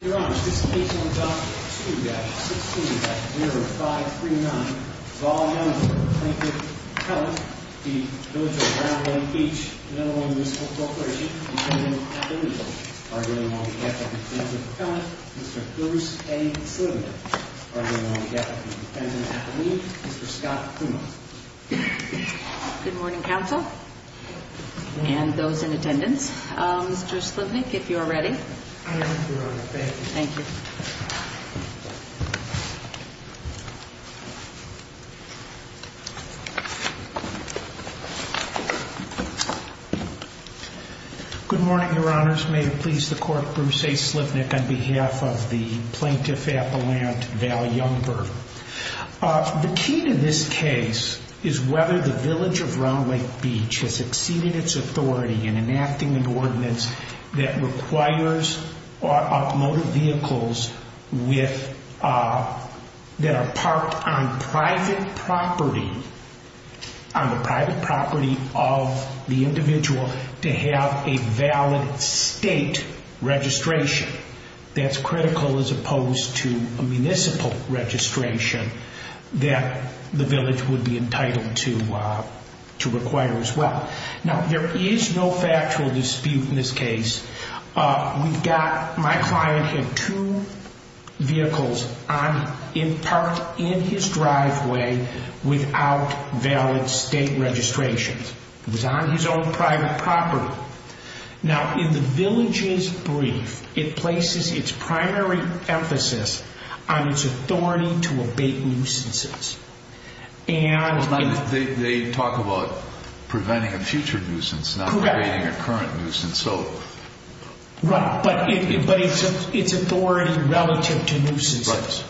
Your Honor, this case on document 2-16-0539 is all known to the plaintiff's accountant, the Village of Round Lake Beach, another one of the municipal proclamations, the defendant at the lead. Arguing along the death of the defendant's accountant, Mr. Bruce A. Slivnik. Arguing along the death of the defendant at the lead, Mr. Scott Puma. Good morning, counsel, and those in attendance. Mr. Slivnik, if you are ready. I am, Your Honor. Thank you. Thank you. Good morning, Your Honors. May it please the Court, Bruce A. Slivnik on behalf of the Plaintiff Appellant Val Youngberg. The key to this case is whether the Village of Round Lake Beach has exceeded its authority in enacting an ordinance that requires automotive vehicles that are parked on private property, on the private property of the individual, to have a valid state registration. That's critical as opposed to a municipal registration that the Village would be entitled to require as well. Now, there is no factual dispute in this case. We've got, my client had two vehicles on, in part, in his driveway without valid state registration. It was on his own private property. Now, in the Village's brief, it places its primary emphasis on its authority to abate nuisances. They talk about preventing a future nuisance, not abating a current nuisance. Right, but it's authority relative to nuisances.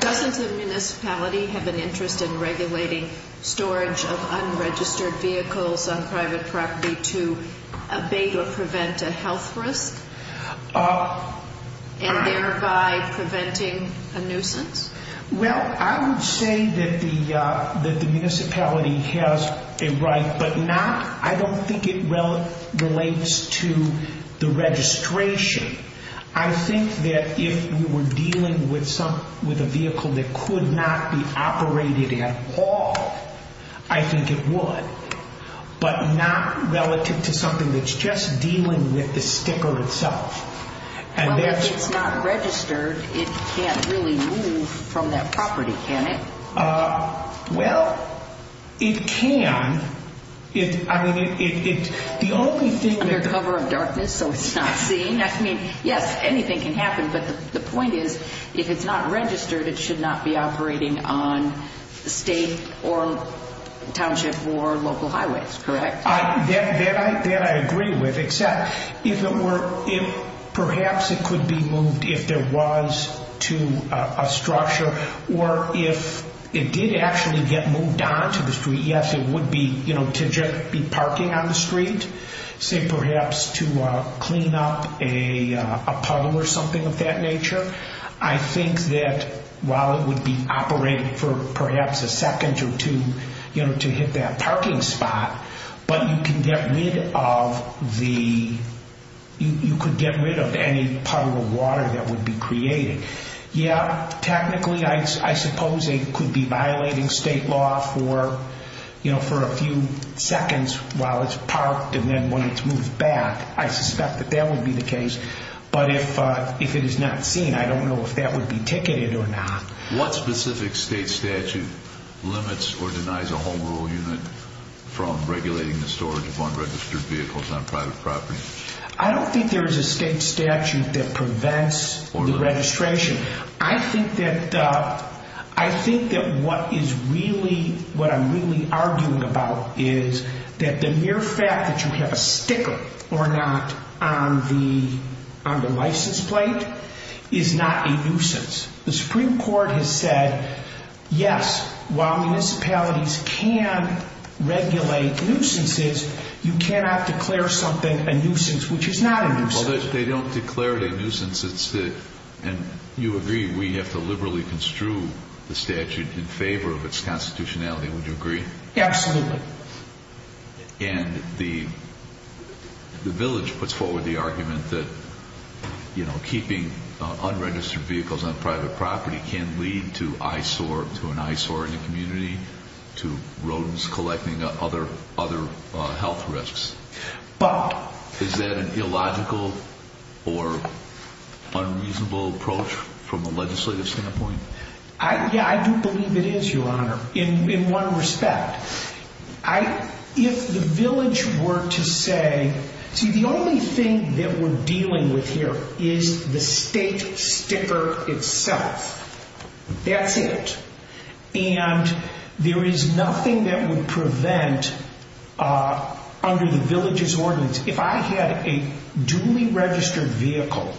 Doesn't the municipality have an interest in regulating storage of unregistered vehicles on private property to abate or prevent a health risk, and thereby preventing a nuisance? Well, I would say that the municipality has a right, but not, I don't think it relates to the registration. I think that if we were dealing with a vehicle that could not be operated at all, I think it would, but not relative to something that's just dealing with the sticker itself. Well, if it's not registered, it can't really move from that property, can it? Well, it can. Under cover of darkness so it's not seen, I mean, yes, anything can happen, but the point is, if it's not registered, it should not be operating on state or township or local highways, correct? That I agree with, except if it were, perhaps it could be moved if there was to a structure, or if it did actually get moved onto the street, yes, it would be, you know, to just be parking on the street, say perhaps to clean up a puddle or something of that nature. I think that while it would be operating for perhaps a second or two, you know, to hit that parking spot, but you can get rid of the, you could get rid of any puddle of water that would be created. Yeah, technically, I suppose it could be violating state law for, you know, for a few seconds while it's parked and then when it's moved back. I suspect that that would be the case, but if it is not seen, I don't know if that would be ticketed or not. What specific state statute limits or denies a home rule unit from regulating the storage of unregistered vehicles on private property? I don't think there is a state statute that prevents the registration. I think that what is really, what I'm really arguing about is that the mere fact that you have a sticker or not on the license plate is not a nuisance. The Supreme Court has said, yes, while municipalities can regulate nuisances, you cannot declare something a nuisance, which is not a nuisance. Well, they don't declare it a nuisance. And you agree we have to liberally construe the statute in favor of its constitutionality. Would you agree? Absolutely. And the village puts forward the argument that, you know, keeping unregistered vehicles on private property can lead to eyesore, to an eyesore in the community, to rodents collecting other health risks. But... Is that an illogical or unreasonable approach from a legislative standpoint? Yeah, I do believe it is, Your Honor, in one respect. If the village were to say, see, the only thing that we're dealing with here is the state sticker itself. That's it. And there is nothing that would prevent, under the village's ordinance, if I had a duly registered vehicle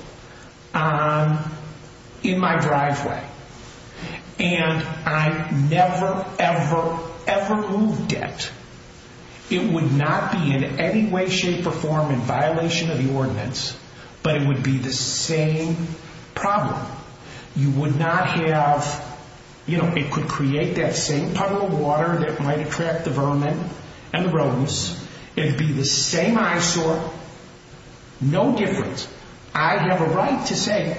in my driveway and I never, ever, ever moved it, it would not be in any way, shape, or form in violation of the ordinance, but it would be the same problem. You would not have... You know, it could create that same puddle of water that might attract the vermin and the rodents. It would be the same eyesore. No difference. I have a right to say,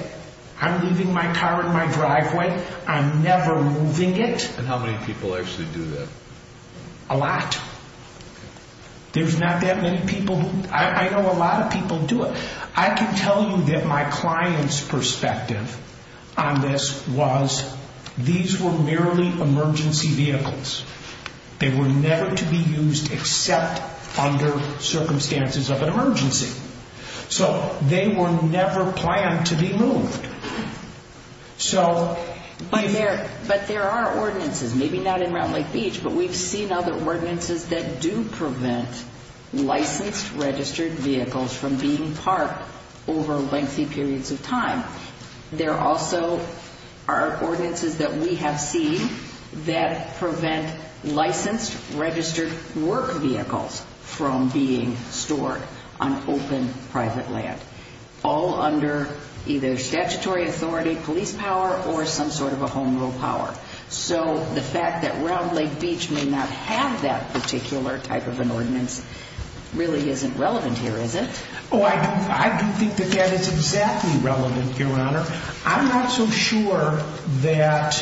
I'm leaving my car in my driveway. I'm never moving it. And how many people actually do that? A lot. There's not that many people... I know a lot of people do it. I can tell you that my client's perspective on this was these were merely emergency vehicles. They were never to be used except under circumstances of an emergency. So they were never planned to be moved. So... But there are ordinances, maybe not in Round Lake Beach, but we've seen other ordinances that do prevent licensed registered vehicles from being parked over lengthy periods of time. There also are ordinances that we have seen that prevent licensed registered work vehicles from being stored on open private land, all under either statutory authority, police power, or some sort of a home rule power. So the fact that Round Lake Beach may not have that particular type of an ordinance really isn't relevant here, is it? Oh, I don't think that that is exactly relevant, Your Honor. I'm not so sure that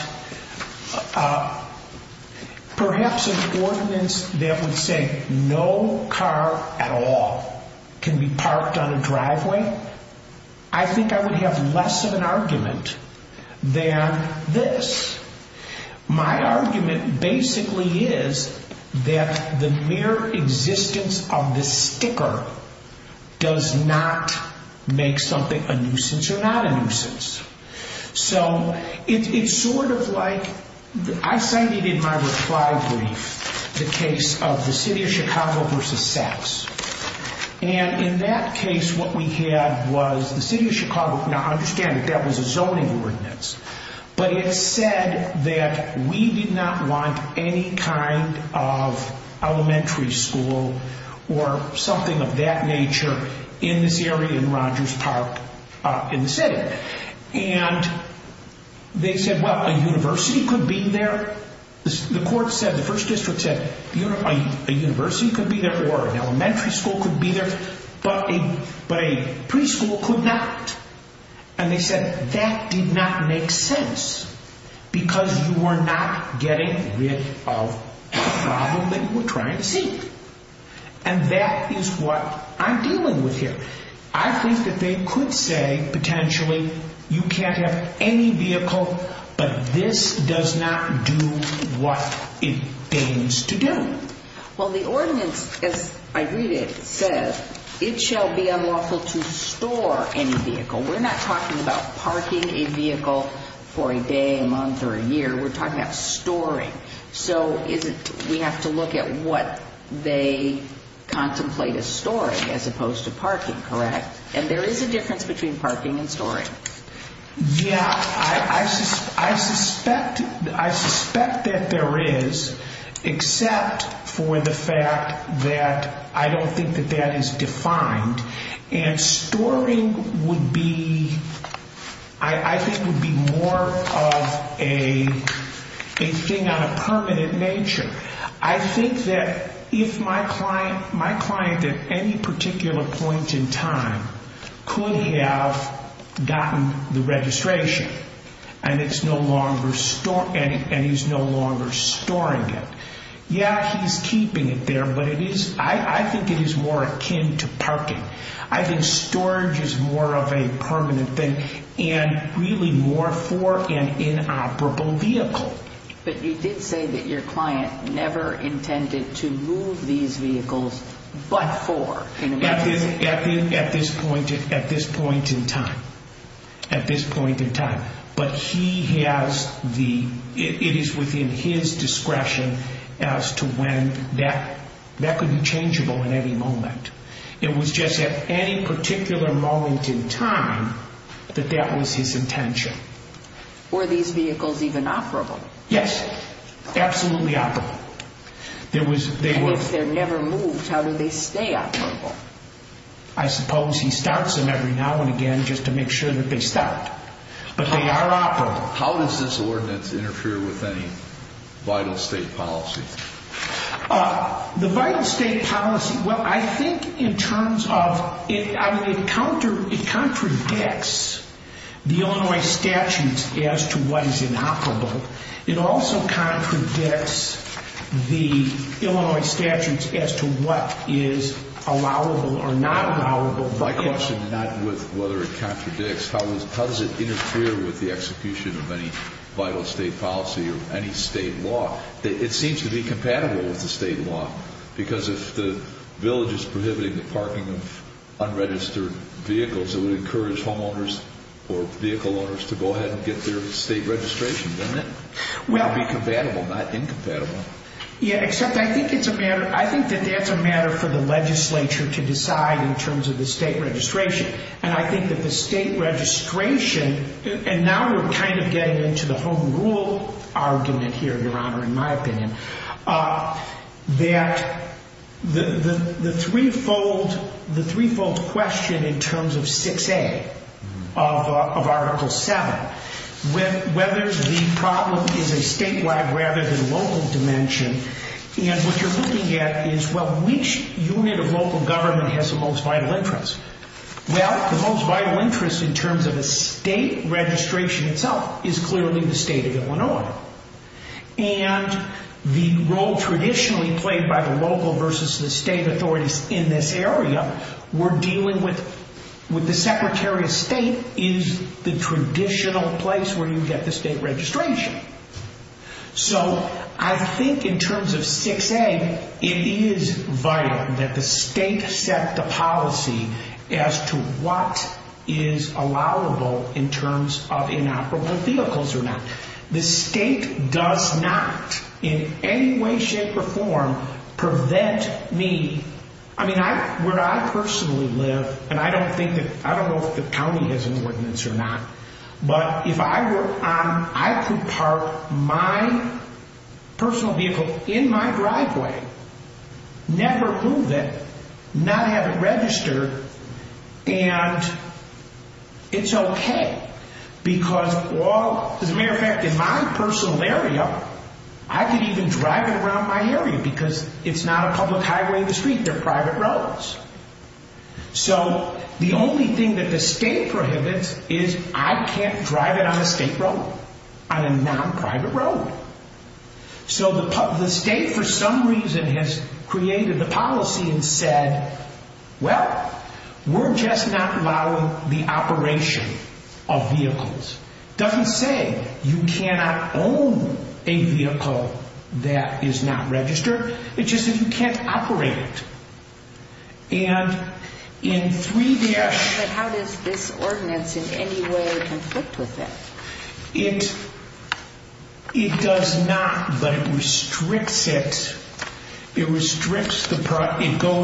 perhaps an ordinance that would say no car at all can be parked on a driveway, I think I would have less of an argument than this. My argument basically is that the mere existence of this sticker does not make something a nuisance or not a nuisance. So it's sort of like... I cited in my reply brief the case of the city of Chicago versus Saks. And in that case what we had was the city of Chicago, now I understand that that was a zoning ordinance, but it said that we did not want any kind of elementary school or something of that nature in this area in Rogers Park in the city. And they said, well, a university could be there. The court said, the first district said, a university could be there or an elementary school could be there, but a preschool could not. And they said that did not make sense because you are not getting rid of the problem that you were trying to see. And that is what I'm dealing with here. I think that they could say, potentially, you can't have any vehicle, but this does not do what it aims to do. Well, the ordinance, as I read it, says, it shall be unlawful to store any vehicle. We're not talking about parking a vehicle for a day, a month, or a year. We're talking about storing. So we have to look at what they contemplate as storing as opposed to parking, correct? And there is a difference between parking and storing. Yeah, I suspect that there is, except for the fact that I don't think that that is defined. And storing, I think, would be more of a thing on a permanent nature. I think that if my client, at any particular point in time, could have gotten the registration and he's no longer storing it, yeah, he's keeping it there, but I think it is more akin to parking. I think storage is more of a permanent thing and really more for an inoperable vehicle. But you did say that your client never intended to move these vehicles but for. At this point in time. At this point in time. But he has the, it is within his discretion as to when, that could be changeable at any moment. It was just at any particular moment in time that that was his intention. Were these vehicles even operable? Yes, absolutely operable. And if they're never moved, how do they stay operable? I suppose he starts them every now and again just to make sure that they start. But they are operable. How does this ordinance interfere with any vital state policy? The vital state policy, well, I think in terms of, it contradicts the Illinois statutes as to what is inoperable. It also contradicts the Illinois statutes as to what is allowable or not allowable. My question is not with whether it contradicts. How does it interfere with the execution of any vital state policy or any state law? It seems to be compatible with the state law. Because if the village is prohibiting the parking of unregistered vehicles, it would encourage homeowners or vehicle owners to go ahead and get their state registration, wouldn't it? It would be compatible, not incompatible. Yeah, except I think it's a matter, I think that that's a matter for the legislature to decide in terms of the state registration. And I think that the state registration, and now we're kind of getting into the home rule argument here, Your Honor, in my opinion, that the threefold question in terms of 6A of Article 7, whether the problem is a statewide rather than local dimension, and what you're looking at is, well, which unit of local government has the most vital interest? Well, the most vital interest in terms of a state registration itself is clearly the state of Illinois. And the role traditionally played by the local versus the state authorities in this area, we're dealing with the Secretary of State is the traditional place where you get the state registration. So I think in terms of 6A, it is vital that the state set the policy as to what is allowable in terms of inoperable vehicles or not. The state does not in any way, shape, or form prevent me. I mean, where I personally live, and I don't know if the county has an ordinance or not, but if I were on, I could park my personal vehicle in my driveway, never move it, not have it registered, and it's okay. Because all, as a matter of fact, in my personal area, I could even drive it around my area because it's not a public highway or street, they're private roads. So the only thing that the state prohibits is I can't drive it on a state road, on a non-private road. So the state for some reason has created the policy and said, well, we're just not allowing the operation of vehicles. Doesn't say you cannot own a vehicle that is not registered, it's just that you can't operate it. And in 3- But how does this ordinance in any way conflict with that? It does not, but it restricts it. It goes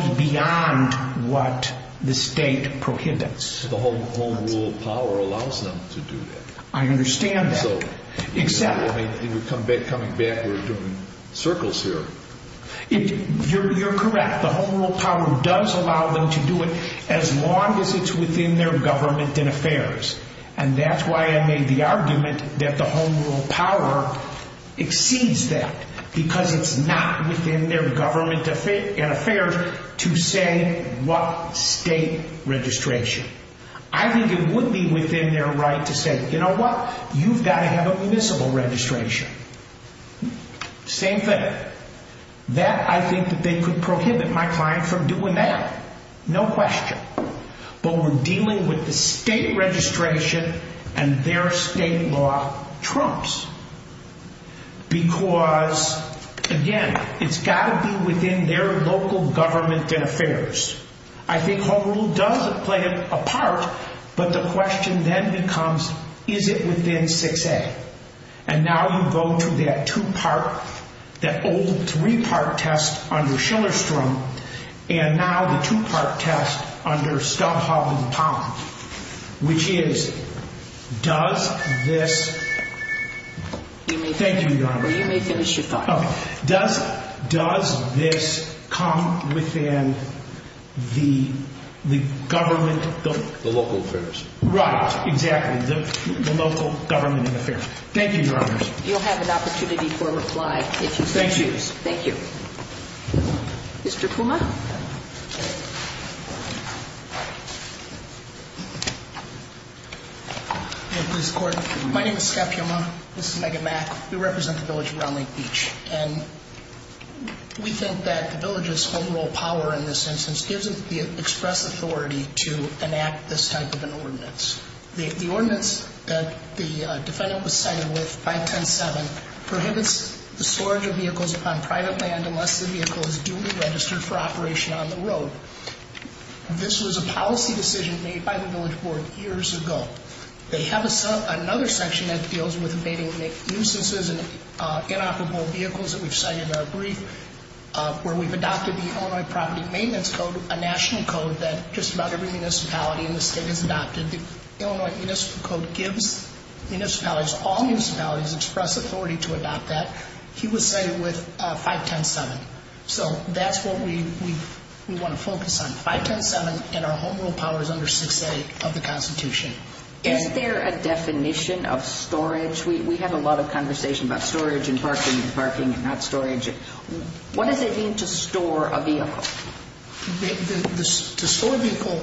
beyond what the state prohibits. The Home Rule power allows them to do that. I understand that, except- I mean, coming back, we're doing circles here. You're correct. The Home Rule power does allow them to do it as long as it's within their government and affairs. And that's why I made the argument that the Home Rule power exceeds that, because it's not within their government and affairs to say what state registration. I think it would be within their right to say, you know what? You've got to have a municipal registration. Same thing. That, I think that they could prohibit my client from doing that. No question. But we're dealing with the state registration, and their state law trumps. Because, again, it's got to be within their local government and affairs. I think Home Rule does play a part, but the question then becomes, is it within 6A? And now you go to that two-part, that old three-part test under Schillerstrom, and now the two-part test under Stubhoff and Pond, which is, does this- Thank you, Your Honor. Well, you may finish your thought. Does this come within the government- The local affairs. Right. Exactly. The local government and affairs. Thank you, Your Honor. You'll have an opportunity for a reply if you so choose. Thank you. Thank you. Mr. Puma. Thank you, Ms. Gordon. My name is Scott Puma. This is Megan Mack. We represent the village of Round Lake Beach. And we think that the village's Home Rule power in this instance gives it the express authority to enact this type of an ordinance. The ordinance that the defendant was cited with, 5107, prohibits the storage of vehicles upon private land unless the vehicle is duly registered for operation on the road. This was a policy decision made by the village board years ago. They have another section that deals with evading nuisances and inoperable vehicles that we've cited in our brief, where we've adopted the Illinois Property Maintenance Code, a national code that just about every municipality in the state has adopted. The Illinois Municipal Code gives municipalities, all municipalities, express authority to adopt that. He was cited with 5107. So that's what we want to focus on. 5107 in our Home Rule power is under 6A of the Constitution. Is there a definition of storage? We have a lot of conversation about storage and parking and parking and not storage. What does it mean to store a vehicle? To store a vehicle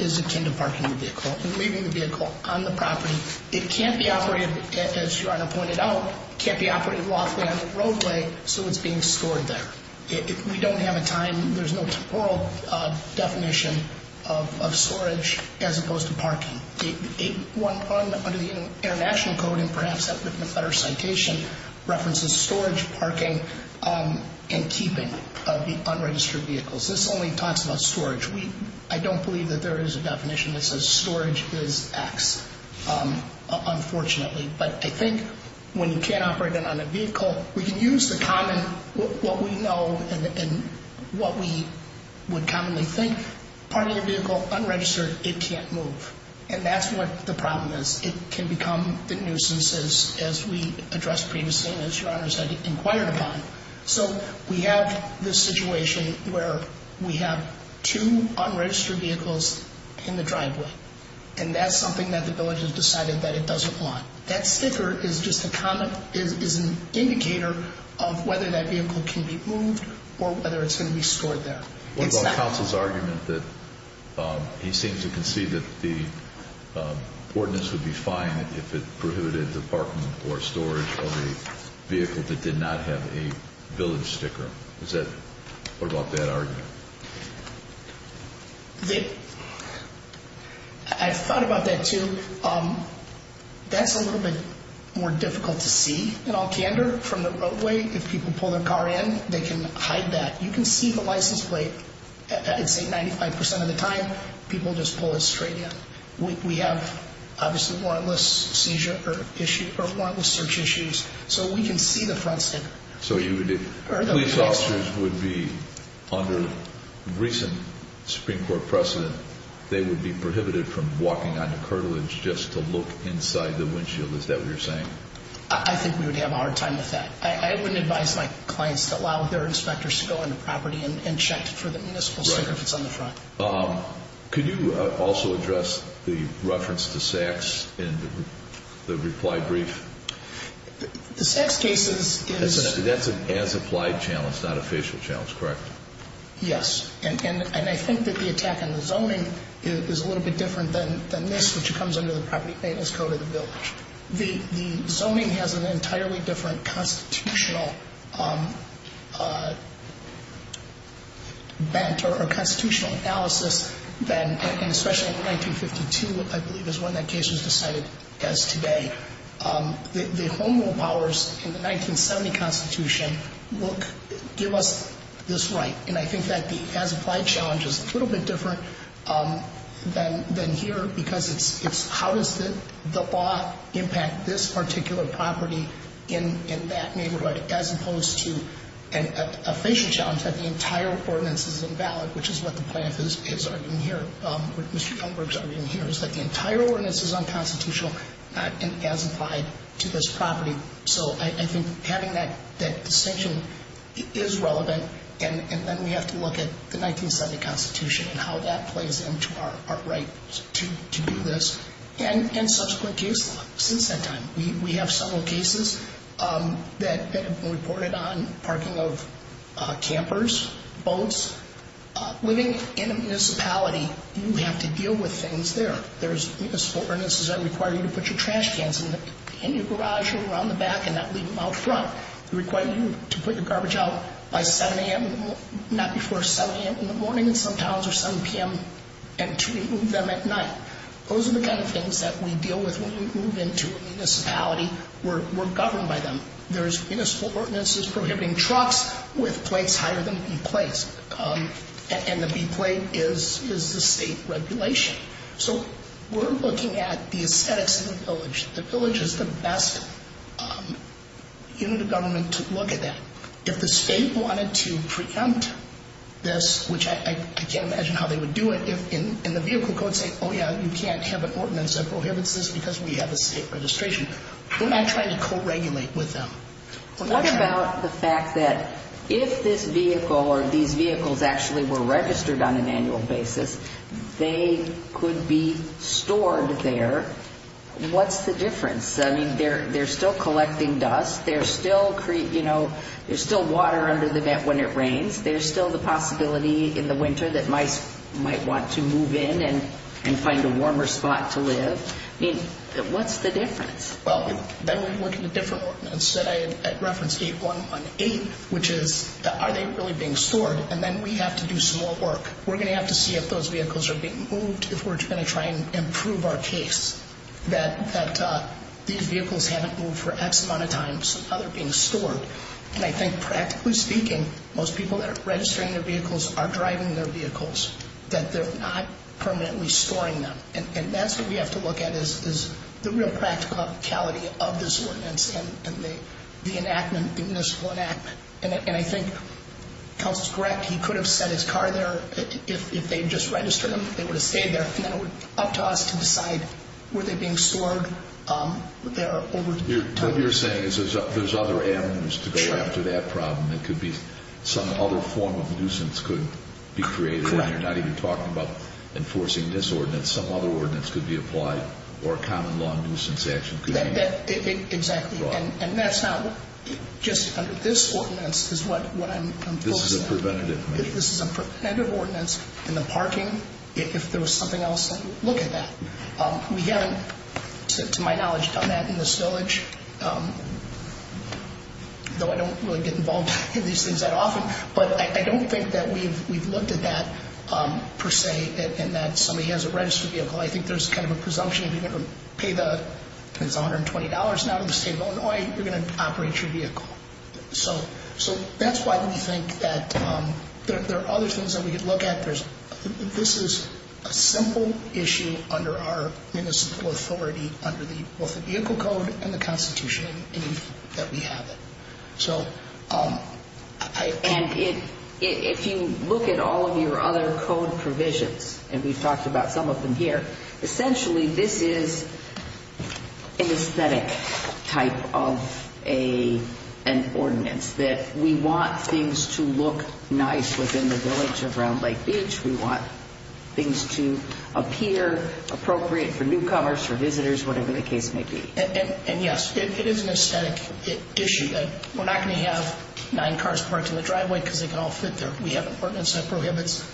is akin to parking the vehicle and leaving the vehicle on the property. It can't be operated, as Your Honor pointed out, can't be operated lawfully on the roadway, so it's being stored there. We don't have a time, there's no temporal definition of storage as opposed to parking. Under the International Code, and perhaps that would be a better citation, references storage, parking, and keeping of the unregistered vehicles. This only talks about storage. I don't believe that there is a definition that says storage is X, unfortunately. But I think when you can't operate it on a vehicle, we can use the common, what we know and what we would commonly think, parking a vehicle unregistered, it can't move. And that's what the problem is. It can become the nuisance, as we addressed previously and as Your Honor said, inquired upon. So we have this situation where we have two unregistered vehicles in the driveway. And that's something that the village has decided that it doesn't want. That sticker is just an indicator of whether that vehicle can be moved or whether it's going to be stored there. What about counsel's argument that he seems to concede that the ordinance would be fine if it prohibited the parking or storage of a vehicle that did not have a village sticker? What about that argument? I've thought about that too. That's a little bit more difficult to see in all candor from the roadway. If people pull their car in, they can hide that. You can see the license plate. I'd say 95 percent of the time, people just pull it straight in. We have, obviously, warrantless seizure or warrantless search issues. So we can see the front sticker. So police officers would be, under recent Supreme Court precedent, they would be prohibited from walking onto curtilage just to look inside the windshield. Is that what you're saying? I think we would have a hard time with that. I wouldn't advise my clients to allow their inspectors to go into property and check for the municipal sticker if it's on the front. Could you also address the reference to SACs in the reply brief? The SACs case is... That's an as-applied challenge, not a facial challenge, correct? Yes. And I think that the attack on the zoning is a little bit different than this, which comes under the property maintenance code of the village. The zoning has an entirely different constitutional bent or constitutional analysis than, and especially in 1952, I believe is when that case was decided as today. The Home Rule powers in the 1970 Constitution give us this right. And I think that the as-applied challenge is a little bit different than here because it's how does the law impact this particular property in that neighborhood as opposed to a facial challenge that the entire ordinance is invalid, which is what the plaintiff is arguing here, what Mr. Youngberg is arguing here, is that the entire ordinance is unconstitutional as applied to this property. So I think having that distinction is relevant, and then we have to look at the 1970 Constitution and how that plays into our right to do this, and subsequent case law since that time. We have several cases that have been reported on parking of campers, boats. Living in a municipality, you have to deal with things there. There's a sport ordinances that require you to put your trash cans in your garage or around the back and not leave them out front. They require you to put your garbage out by 7 a.m., not before 7 a.m. in the morning in some towns or 7 p.m., and to remove them at night. Those are the kind of things that we deal with when we move into a municipality. We're governed by them. There's municipal ordinances prohibiting trucks with plates higher than B plates, and the B plate is the state regulation. So we're looking at the aesthetics of the village. The village is the best unit of government to look at that. If the state wanted to preempt this, which I can't imagine how they would do it, if in the vehicle code say, oh, yeah, you can't have an ordinance that prohibits this because we have a state registration, we're not trying to co-regulate with them. What about the fact that if this vehicle or these vehicles actually were registered on an annual basis, they could be stored there, what's the difference? I mean, they're still collecting dust. There's still water under the vent when it rains. There's still the possibility in the winter that mice might want to move in and find a warmer spot to live. I mean, what's the difference? Well, then we'd look at a different ordinance that I referenced, 8118, which is are they really being stored, and then we have to do some more work. We're going to have to see if those vehicles are being moved if we're going to try and improve our case. These vehicles haven't moved for X amount of time, so now they're being stored. And I think practically speaking, most people that are registering their vehicles are driving their vehicles, that they're not permanently storing them. And that's what we have to look at is the real practicality of this ordinance and the enactment, the municipal enactment. And I think Counselor's correct. He could have set his car there. If they had just registered them, they would have stayed there, and then it would be up to us to decide were they being stored over time. What you're saying is there's other avenues to go after that problem. It could be some other form of nuisance could be created. Correct. And you're not even talking about enforcing this ordinance. Some other ordinance could be applied, or a common law nuisance action could be made. Exactly. And that's not just under this ordinance is what I'm enforcing. This is a preventative measure. This is a preventative ordinance in the parking. If there was something else, look at that. We haven't, to my knowledge, done that in this village, though I don't really get involved in these things that often. But I don't think that we've looked at that per se and that somebody has a registered vehicle. I think there's kind of a presumption if you're going to pay the $120 now to the state of Illinois, you're going to operate your vehicle. So that's why we think that there are other things that we could look at. This is a simple issue under our municipal authority, under both the vehicle code and the Constitution, that we have it. And if you look at all of your other code provisions, and we've talked about some of them here, essentially this is an aesthetic type of an ordinance, that we want things to look nice within the village of Round Lake Beach. We want things to appear appropriate for newcomers, for visitors, whatever the case may be. And, yes, it is an aesthetic issue. We're not going to have nine cars parked in the driveway because they can all fit there. We have an ordinance that prohibits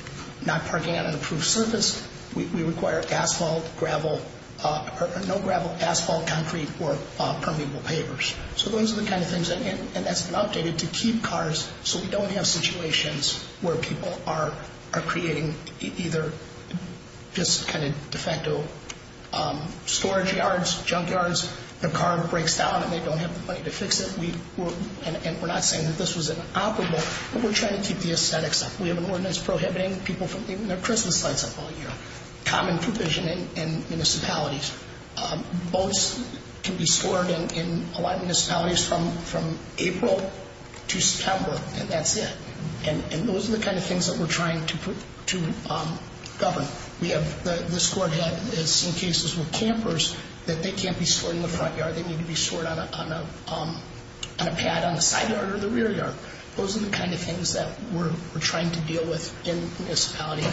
not parking on an approved surface. We require asphalt, gravel, no gravel, asphalt, concrete, or permeable pavers. So those are the kind of things, and that's been updated, to keep cars so we don't have situations where people are creating either just kind of de facto storage yards, junk yards, their car breaks down and they don't have the money to fix it. And we're not saying that this was inoperable, but we're trying to keep the aesthetics up. We have an ordinance prohibiting people from leaving their Christmas lights up all year. Common provision in municipalities. Boats can be stored in a lot of municipalities from April to September, and that's it. And those are the kind of things that we're trying to govern. This court has seen cases with campers that they can't be stored in the front yard. They need to be stored on a pad on the side yard or the rear yard. Those are the kind of things that we're trying to deal with in the municipality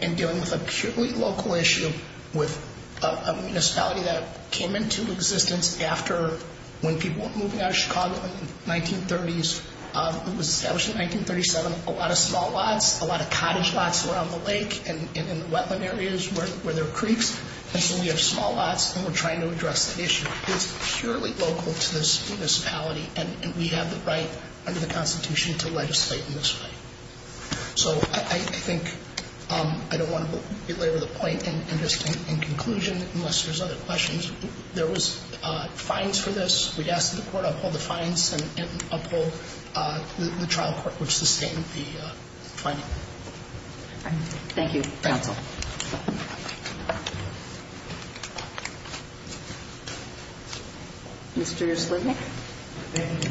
and dealing with a purely local issue with a municipality that came into existence after when people were moving out of Chicago in the 1930s. It was established in 1937. A lot of small lots, a lot of cottage lots around the lake and in the wetland areas where there are creeks. And so we have small lots, and we're trying to address the issue. It's purely local to this municipality, and we have the right under the Constitution to legislate in this way. So I think I don't want to belabor the point, and just in conclusion, unless there's other questions, there was fines for this. We asked that the court uphold the fines and uphold the trial court, which sustained the fine. Thank you, counsel. Mr. Slibnick? Thank you.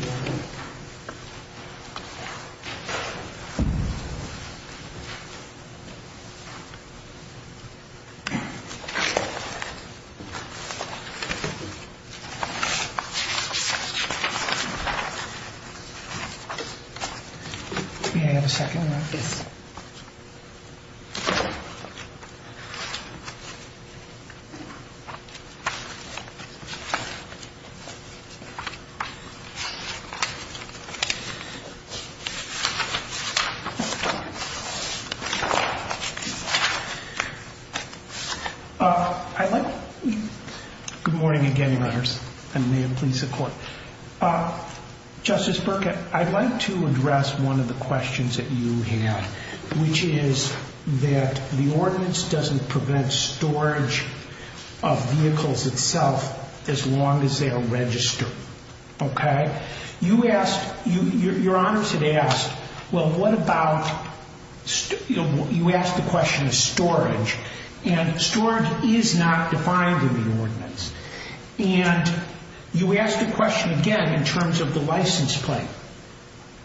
May I have a second on this? Good morning again, Your Honors, and may it please the Court. Justice Burke, I'd like to address one of the questions that you have, which is that the ordinance doesn't prevent storage of vehicles itself as long as they are registered. Okay? You asked, Your Honors had asked, well, what about, you asked the question of storage, and storage is not defined in the ordinance. And you asked the question again in terms of the license plate.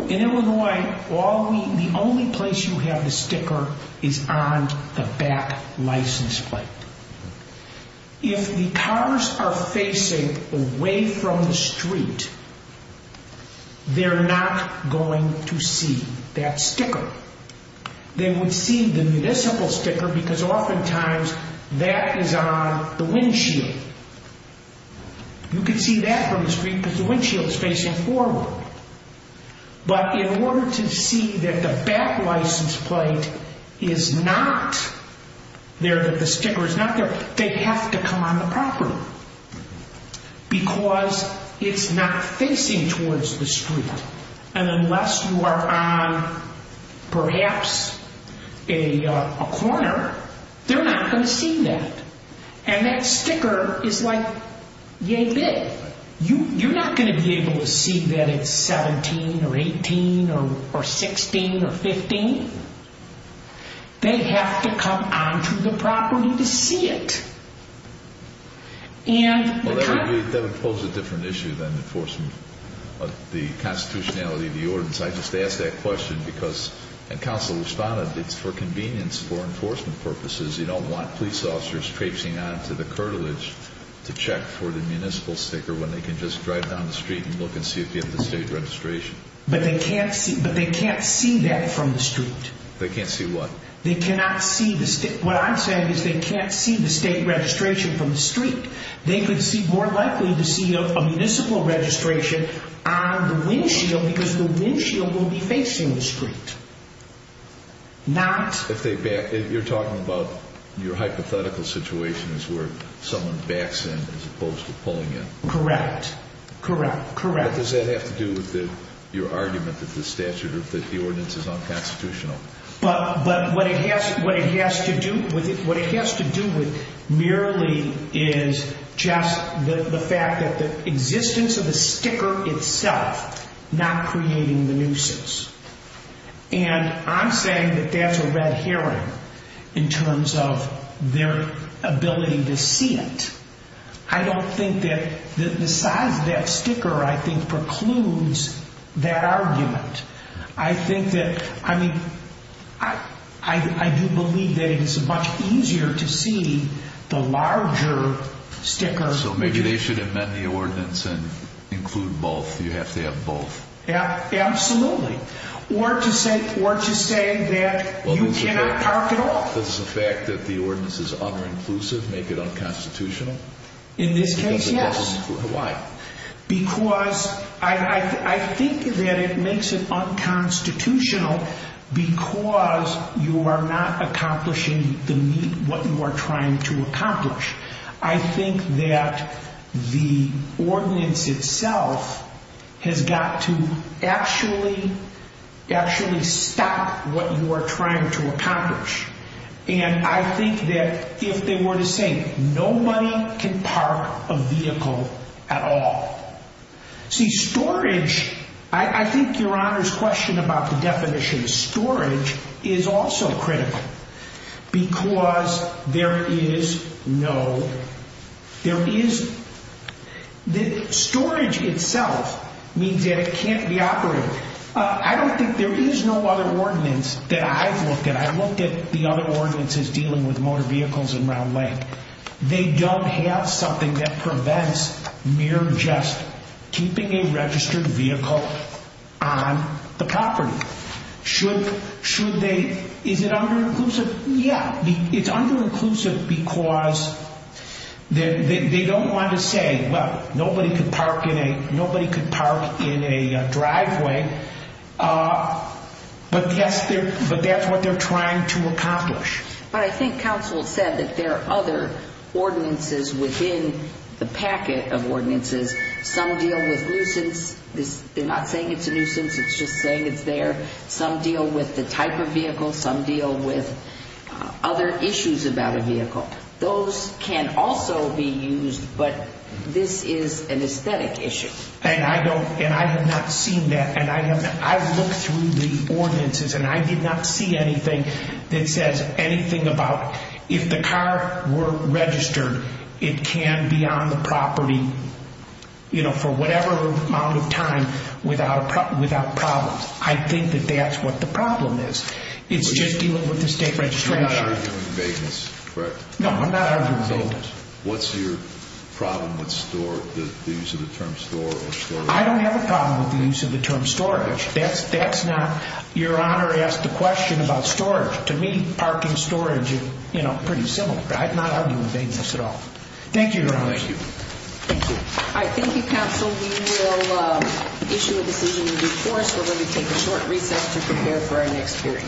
In Illinois, the only place you have the sticker is on the back license plate. If the cars are facing away from the street, they're not going to see that sticker. They would see the municipal sticker because oftentimes that is on the windshield. You can see that from the street because the windshield is facing forward. But in order to see that the back license plate is not there, that the sticker is not there, they have to come on the property because it's not facing towards the street. And unless you are on perhaps a corner, they're not going to see that. And that sticker is like yay big. You're not going to be able to see that it's 17 or 18 or 16 or 15. They have to come on to the property to see it. And the kind of... Well, that would pose a different issue than enforcing the constitutionality of the ordinance. I just asked that question because, and counsel responded, it's for convenience for enforcement purposes. You don't want police officers traipsing on to the curtilage to check for the municipal sticker when they can just drive down the street and look and see if you have the state registration. But they can't see that from the street. They can't see what? They cannot see the... What I'm saying is they can't see the state registration from the street. They could see more likely to see a municipal registration on the windshield because the windshield will be facing the street. Not... You're talking about your hypothetical situation is where someone backs in as opposed to pulling in. Correct, correct, correct. Does that have to do with your argument that the ordinance is unconstitutional? But what it has to do with merely is just the fact that the existence of the sticker itself not creating the nuisance. And I'm saying that that's a red herring in terms of their ability to see it. I don't think that the size of that sticker, I think, precludes that argument. I think that, I mean, I do believe that it is much easier to see the larger sticker. So maybe they should amend the ordinance and include both. You have to have both. Absolutely. Or to say that you cannot park at all. Does the fact that the ordinance is uninclusive make it unconstitutional? In this case, yes. Why? Because I think that it makes it unconstitutional because you are not accomplishing the need, what you are trying to accomplish. I think that the ordinance itself has got to actually stop what you are trying to accomplish. And I think that if they were to say nobody can park a vehicle at all. See, storage, I think your Honor's question about the definition of storage is also critical. Because there is no, there is, the storage itself means that it can't be operated. I don't think there is no other ordinance that I've looked at. I've looked at the other ordinances dealing with motor vehicles in Round Lake. They don't have something that prevents mere just keeping a registered vehicle on the property. Should they, is it under-inclusive? Yeah, it's under-inclusive because they don't want to say, well, nobody can park in a driveway. But that's what they are trying to accomplish. But I think counsel said that there are other ordinances within the packet of ordinances. Some deal with nuisance. They are not saying it's a nuisance. It's just saying it's there. Some deal with the type of vehicle. Some deal with other issues about a vehicle. Those can also be used, but this is an aesthetic issue. And I have not seen that. I looked through the ordinances and I did not see anything that says anything about, if the car were registered, it can be on the property for whatever amount of time without problems. I think that that's what the problem is. It's just dealing with the state registry. You're not arguing vagueness, correct? No, I'm not arguing vagueness. What's your problem with the use of the term store or storage? I don't have a problem with the use of the term storage. That's not your honor asked the question about storage. To me, parking storage is pretty similar. I'm not arguing vagueness at all. Thank you, your honor. Thank you. Thank you. All right, thank you, counsel. We will issue a decision in due course. We're going to take a short recess to prepare for our next hearing.